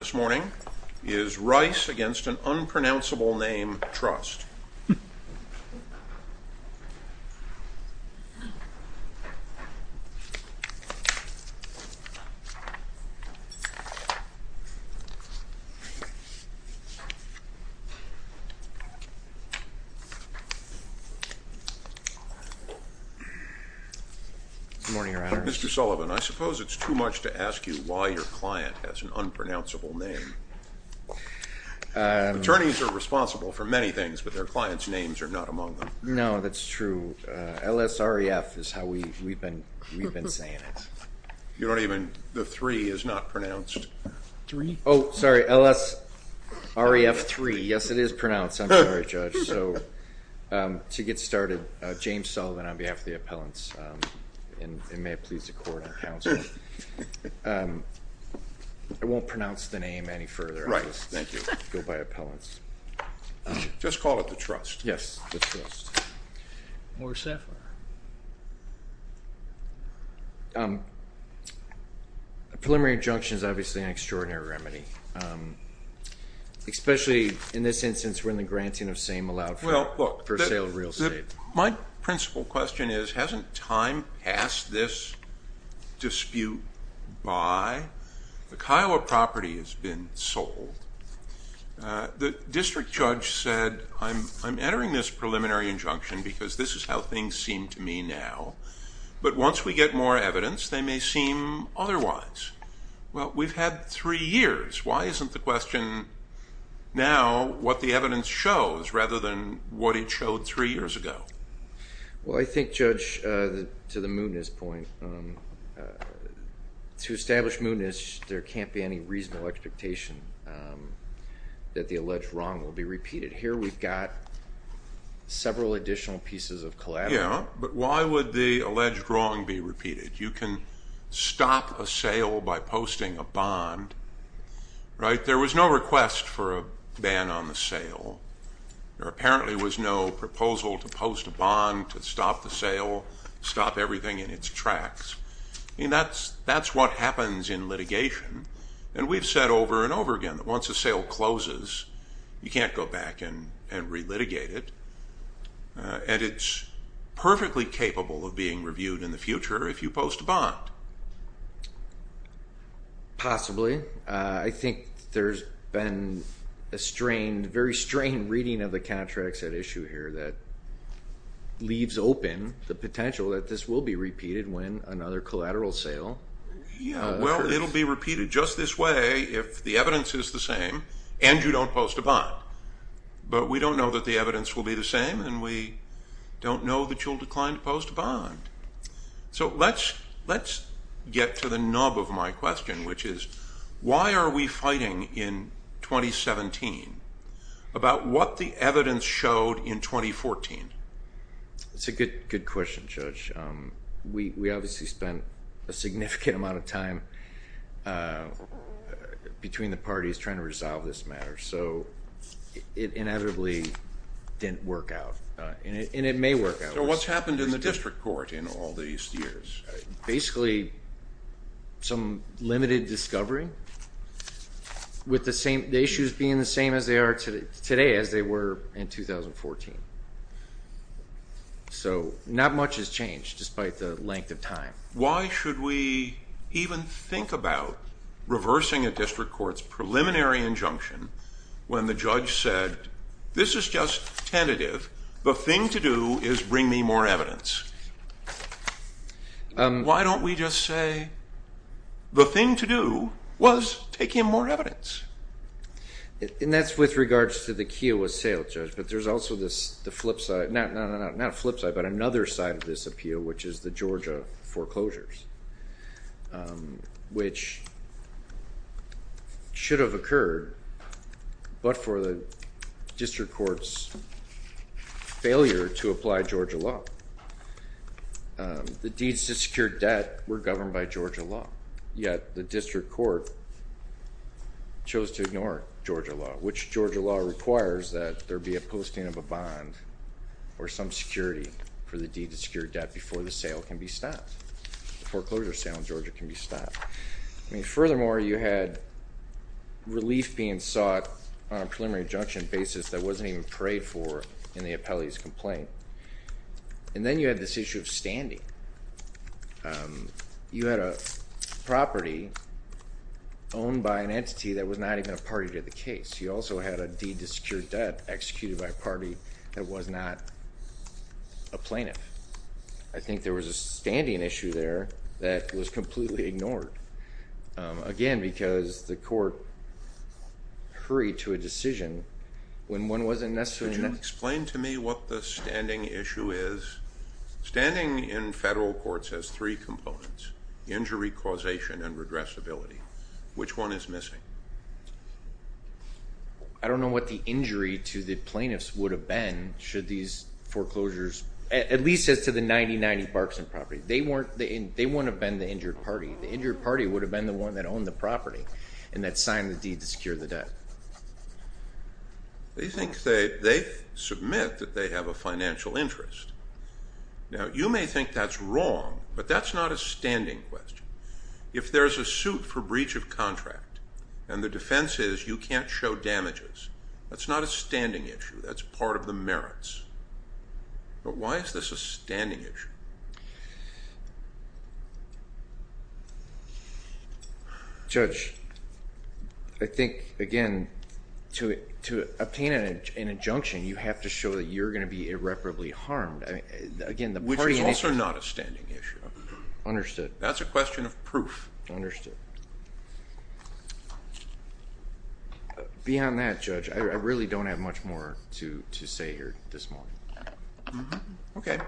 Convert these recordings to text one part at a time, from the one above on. This morning is Rice v. Unpronounceable Name Trust. Mr. Sullivan, I suppose it's too much to ask you why your client has an unpronounceable name. Attorneys are responsible for many things, but their clients' names are not among them. No, that's true. LSREF is how we've been saying it. The three is not pronounced. Oh, sorry. LSREF3. Yes, it is pronounced. I'm sorry, Judge. To get started, James Sullivan on behalf of the appellants, and may it please the court and counsel, I won't pronounce the name any further. I'll just go by appellants. Just call it the trust. Yes, the trust. Morris Sapphire. A preliminary injunction is obviously an extraordinary remedy, especially in this instance when the granting of same allowed for sale of real estate. My principal question is, hasn't time passed this dispute by? The Kiowa property has been sold. The district judge said, I'm entering this preliminary injunction because this is how things seem to me now. But once we get more evidence, they may seem otherwise. Well, we've had three years. Why isn't the question now what the evidence shows rather than what it showed three years ago? Well, I think, Judge, to the mootness point, to establish mootness, there can't be any reasonable expectation that the alleged wrong will be repeated. Here we've got several additional pieces of collateral. Yeah, but why would the alleged wrong be repeated? You can stop a sale by posting a bond, right? There was no request for a ban on the sale. There apparently was no proposal to post a bond to stop the sale, stop everything in its tracks. I mean, that's what happens in litigation. And we've said over and over again that once a sale closes, you can't go back and relitigate it. And it's perfectly capable of being reviewed in the future if you post a bond. Possibly. I think there's been a very strained reading of the contracts at issue here that leaves open the potential that this will be repeated when another collateral sale occurs. Yeah, well, it'll be repeated just this way if the evidence is the same and you don't post a bond. But we don't know that the evidence will be the same, and we don't know that you'll decline to post a bond. So let's get to the nub of my question, which is why are we fighting in 2017 about what the evidence showed in 2014? That's a good question, Judge. We obviously spent a significant amount of time between the parties trying to resolve this matter. So it inevitably didn't work out, and it may work out. So what's happened in the district court in all these years? Basically some limited discovery with the issues being the same as they are today as they were in 2014. So not much has changed despite the length of time. Why should we even think about reversing a district court's preliminary injunction when the judge said this is just tentative. The thing to do is bring me more evidence. Why don't we just say the thing to do was take in more evidence? And that's with regards to the Keough was sailed, Judge, but there's also the flip side. Not a flip side, but another side of this appeal, which is the Georgia foreclosures, which should have occurred, but for the district court's failure to apply Georgia law. The deeds to secure debt were governed by Georgia law. Yet the district court chose to ignore Georgia law, which Georgia law requires that there be a posting of a bond or some security for the deed to secure debt before the sale can be stopped. The foreclosure sale in Georgia can be stopped. Furthermore, you had relief being sought on a preliminary injunction basis that wasn't even prayed for in the appellee's complaint. And then you had this issue of standing. You had a property owned by an entity that was not even a party to the case. You also had a deed to secure debt executed by a party that was not a plaintiff. I think there was a standing issue there that was completely ignored. Again, because the court hurried to a decision when one wasn't necessarily necessary. Explain to me what the standing issue is. Standing in federal courts has three components, injury causation and regressibility. Which one is missing? I don't know what the injury to the plaintiffs would have been should these foreclosures, at least as to the 9090 Barkson property. They wouldn't have been the injured party. The injured party would have been the one that owned the property and that signed the deed to secure the debt. They submit that they have a financial interest. Now, you may think that's wrong, but that's not a standing question. If there's a suit for breach of contract and the defense is you can't show damages, that's not a standing issue. That's part of the merits. But why is this a standing issue? Judge, I think, again, to obtain an injunction, you have to show that you're going to be irreparably harmed. Which is also not a standing issue. Understood. That's a question of proof. Understood. Beyond that, Judge, I really don't have much more to say here this morning. Okay.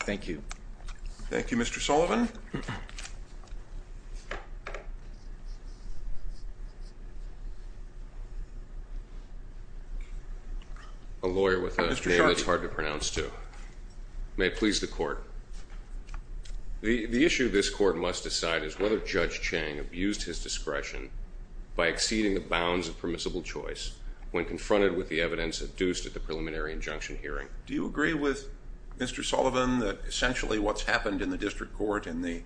Thank you. Thank you, Mr. Sullivan. A lawyer with a name that's hard to pronounce, too. May it please the court. The issue this court must decide is whether Judge Chang abused his discretion by exceeding the bounds of permissible choice when confronted with the evidence adduced at the preliminary injunction hearing. Do you agree with Mr. Sullivan that essentially what's happened in the district court in the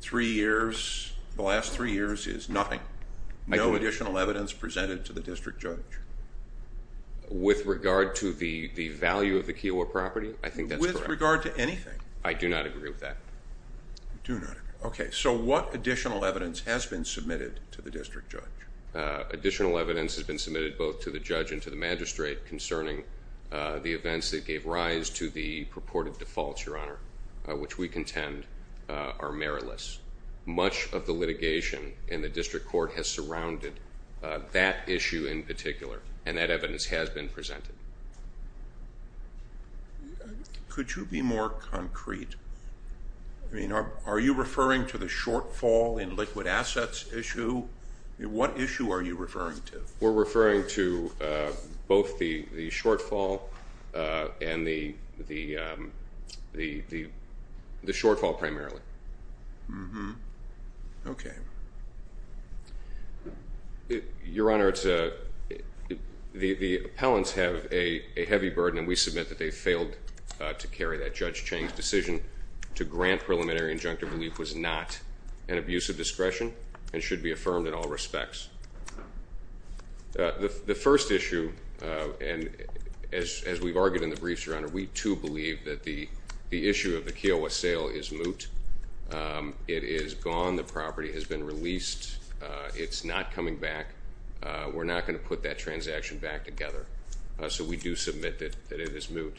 three years, the last three years, is nothing? I do. No additional evidence presented to the district judge? With regard to the value of the Kiowa property, I think that's correct. With regard to anything? I do not agree with that. Do not agree. Okay. So what additional evidence has been submitted to the district judge? Additional evidence has been submitted both to the judge and to the magistrate concerning the events that gave rise to the purported defaults, Your Honor, which we contend are meritless. Much of the litigation in the district court has surrounded that issue in particular, and that evidence has been presented. Could you be more concrete? I mean, are you referring to the shortfall in liquid assets issue? What issue are you referring to? We're referring to both the shortfall and the shortfall primarily. Okay. Your Honor, the appellants have a heavy burden, and we submit that they failed to carry that. Judge Chang's decision to grant preliminary injunctive relief was not an abuse of discretion and should be affirmed in all respects. The first issue, and as we've argued in the briefs, Your Honor, we too believe that the issue of the Kiowa sale is moot. It is gone. The property has been released. It's not coming back. We're not going to put that transaction back together, so we do submit that it is moot.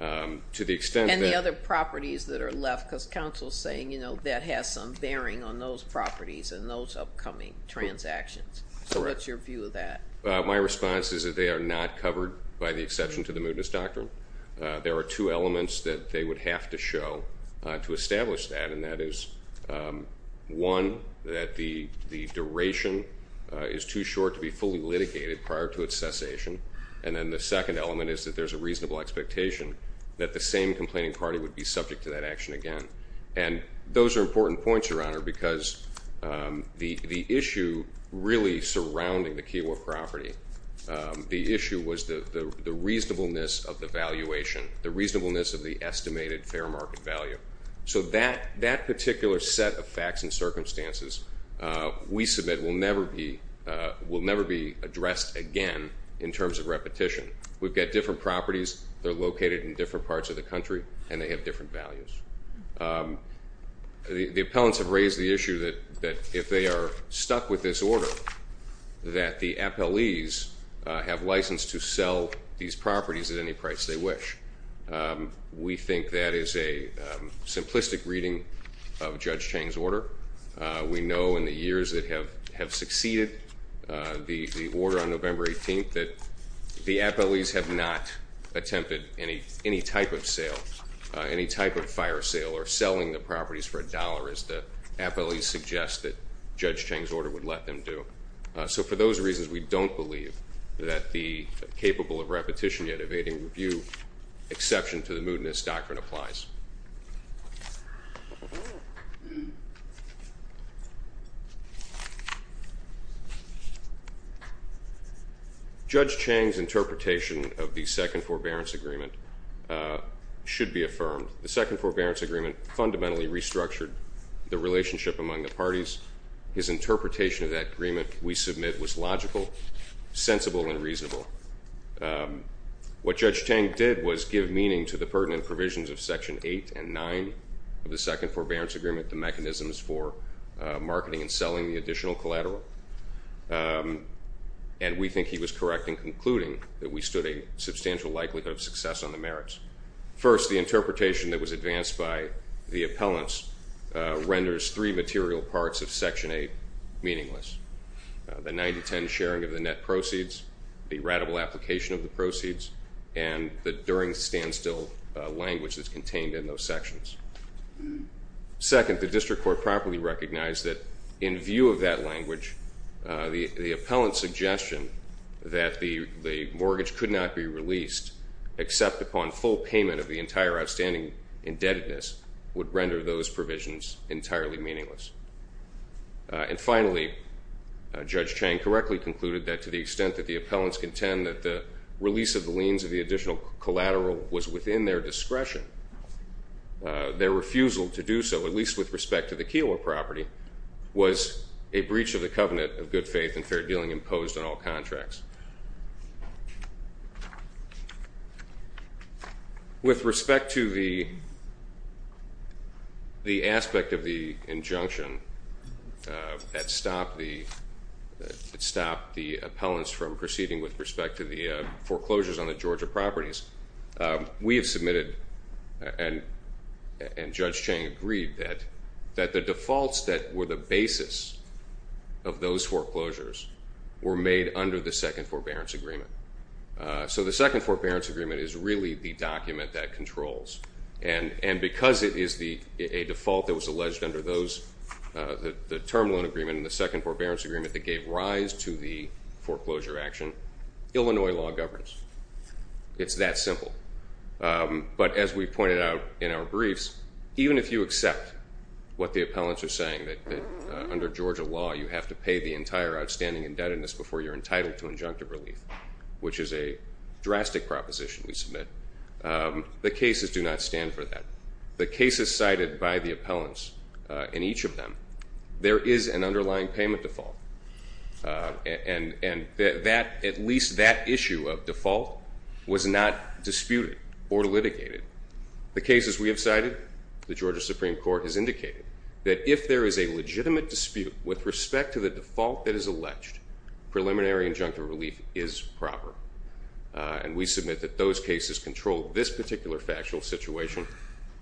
To the extent that- And the other properties that are left, because counsel is saying, you know, that has some bearing on those properties and those upcoming transactions. So what's your view of that? My response is that they are not covered by the exception to the mootness doctrine. There are two elements that they would have to show to establish that, and that is, one, that the duration is too short to be fully litigated prior to its cessation, and then the second element is that there's a reasonable expectation that the same complaining party would be subject to that action again. And those are important points, Your Honor, because the issue really surrounding the Kiowa property, the issue was the reasonableness of the valuation, the reasonableness of the estimated fair market value. So that particular set of facts and circumstances we submit will never be addressed again in terms of repetition. We've got different properties. They're located in different parts of the country, and they have different values. The appellants have raised the issue that if they are stuck with this order, that the appellees have license to sell these properties at any price they wish. We think that is a simplistic reading of Judge Chang's order. We know in the years that have succeeded the order on November 18th that the appellees have not attempted any type of sale, any type of fire sale or selling the properties for a dollar as the appellees suggest that Judge Chang's order would let them do. So for those reasons, we don't believe that the capable of repetition yet evading review exception to the moodiness doctrine applies. Judge Chang's interpretation of the second forbearance agreement should be affirmed. The second forbearance agreement fundamentally restructured the relationship among the parties. His interpretation of that agreement we submit was logical, sensible, and reasonable. What Judge Chang did was give meaning to the pertinent provisions of Section 8.1 of the Criminal Code. Section 8 and 9 of the second forbearance agreement, the mechanisms for marketing and selling the additional collateral. And we think he was correct in concluding that we stood a substantial likelihood of success on the merits. First, the interpretation that was advanced by the appellants renders three material parts of Section 8 meaningless. The 9 to 10 sharing of the net proceeds, the ratable application of the proceeds, and the during standstill language that's contained in those sections. Second, the district court properly recognized that in view of that language, the appellant's suggestion that the mortgage could not be released except upon full payment of the entire outstanding indebtedness would render those provisions entirely meaningless. And finally, Judge Chang correctly concluded that to the extent that the appellants contend that the release of the liens of the additional collateral was within their discretion, their refusal to do so, at least with respect to the Keeler property, was a breach of the covenant of good faith and fair dealing imposed on all contracts. With respect to the aspect of the injunction that stopped the appellants from proceeding with respect to the foreclosures on the Georgia properties, we have submitted and Judge Chang agreed that the defaults that were the basis of those foreclosures were made under the second forbearance agreement. So the second forbearance agreement is really the document that controls. And because it is a default that was alleged under the term loan agreement and the second forbearance agreement that gave rise to the foreclosure action, Illinois law governs. It's that simple. But as we pointed out in our briefs, even if you accept what the appellants are saying, that under Georgia law you have to pay the entire outstanding indebtedness before you're entitled to injunctive relief, which is a drastic proposition we submit, the cases do not stand for that. The cases cited by the appellants in each of them, there is an underlying payment default. And at least that issue of default was not disputed or litigated. The cases we have cited, the Georgia Supreme Court has indicated that if there is a legitimate dispute with respect to the default that is alleged, preliminary injunctive relief is proper. And we submit that those cases control this particular factual situation,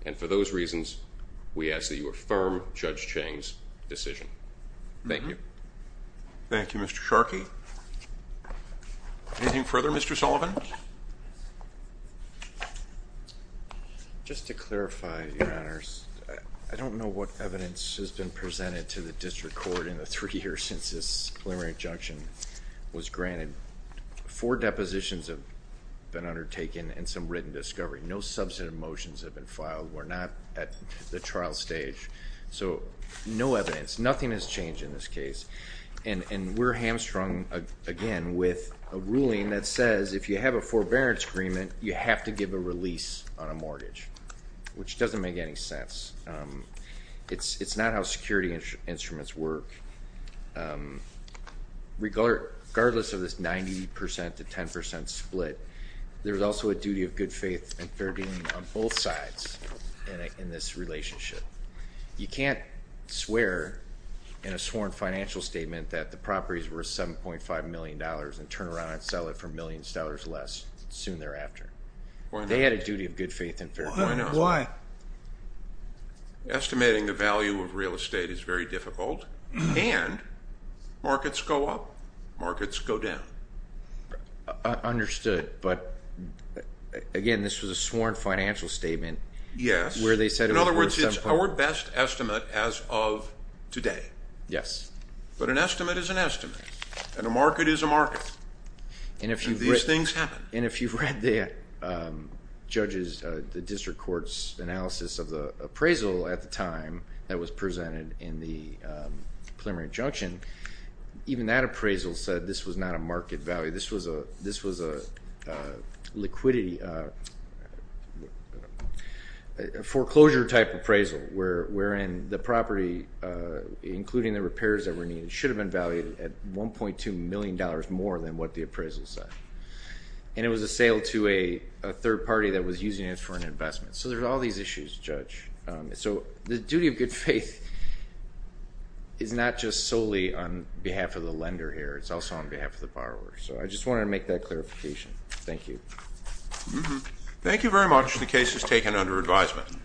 and for those reasons we ask that you affirm Judge Chang's decision. Thank you. Thank you, Mr. Sharkey. Anything further, Mr. Sullivan? Just to clarify, Your Honors, I don't know what evidence has been presented to the district court in the three years since this preliminary injunction was granted. Four depositions have been undertaken and some written discovery. No substantive motions have been filed. We're not at the trial stage. So no evidence. Nothing has changed in this case. And we're hamstrung, again, with a ruling that says if you have a forbearance agreement, you have to give a release on a mortgage, which doesn't make any sense. It's not how security instruments work. Regardless of this 90% to 10% split, there is also a duty of good faith and fair dealing on both sides in this relationship. You can't swear in a sworn financial statement that the property is worth $7.5 million and turn around and sell it for millions of dollars less soon thereafter. They had a duty of good faith and fair dealing. Why not? Estimating the value of real estate is very difficult, and markets go up, markets go down. Understood. But, again, this was a sworn financial statement. Yes. In other words, it's our best estimate as of today. Yes. But an estimate is an estimate, and a market is a market, and these things happen. And if you've read the judges, the district court's analysis of the appraisal at the time that was presented in the preliminary injunction, even that appraisal said this was not a market value. This was a foreclosure-type appraisal wherein the property, including the repairs that were needed, should have been valued at $1.2 million more than what the appraisal said. And it was a sale to a third party that was using it for an investment. So there's all these issues, Judge. So the duty of good faith is not just solely on behalf of the lender here. It's also on behalf of the borrower. So I just wanted to make that clarification. Thank you. Thank you very much. The case is taken under advisement.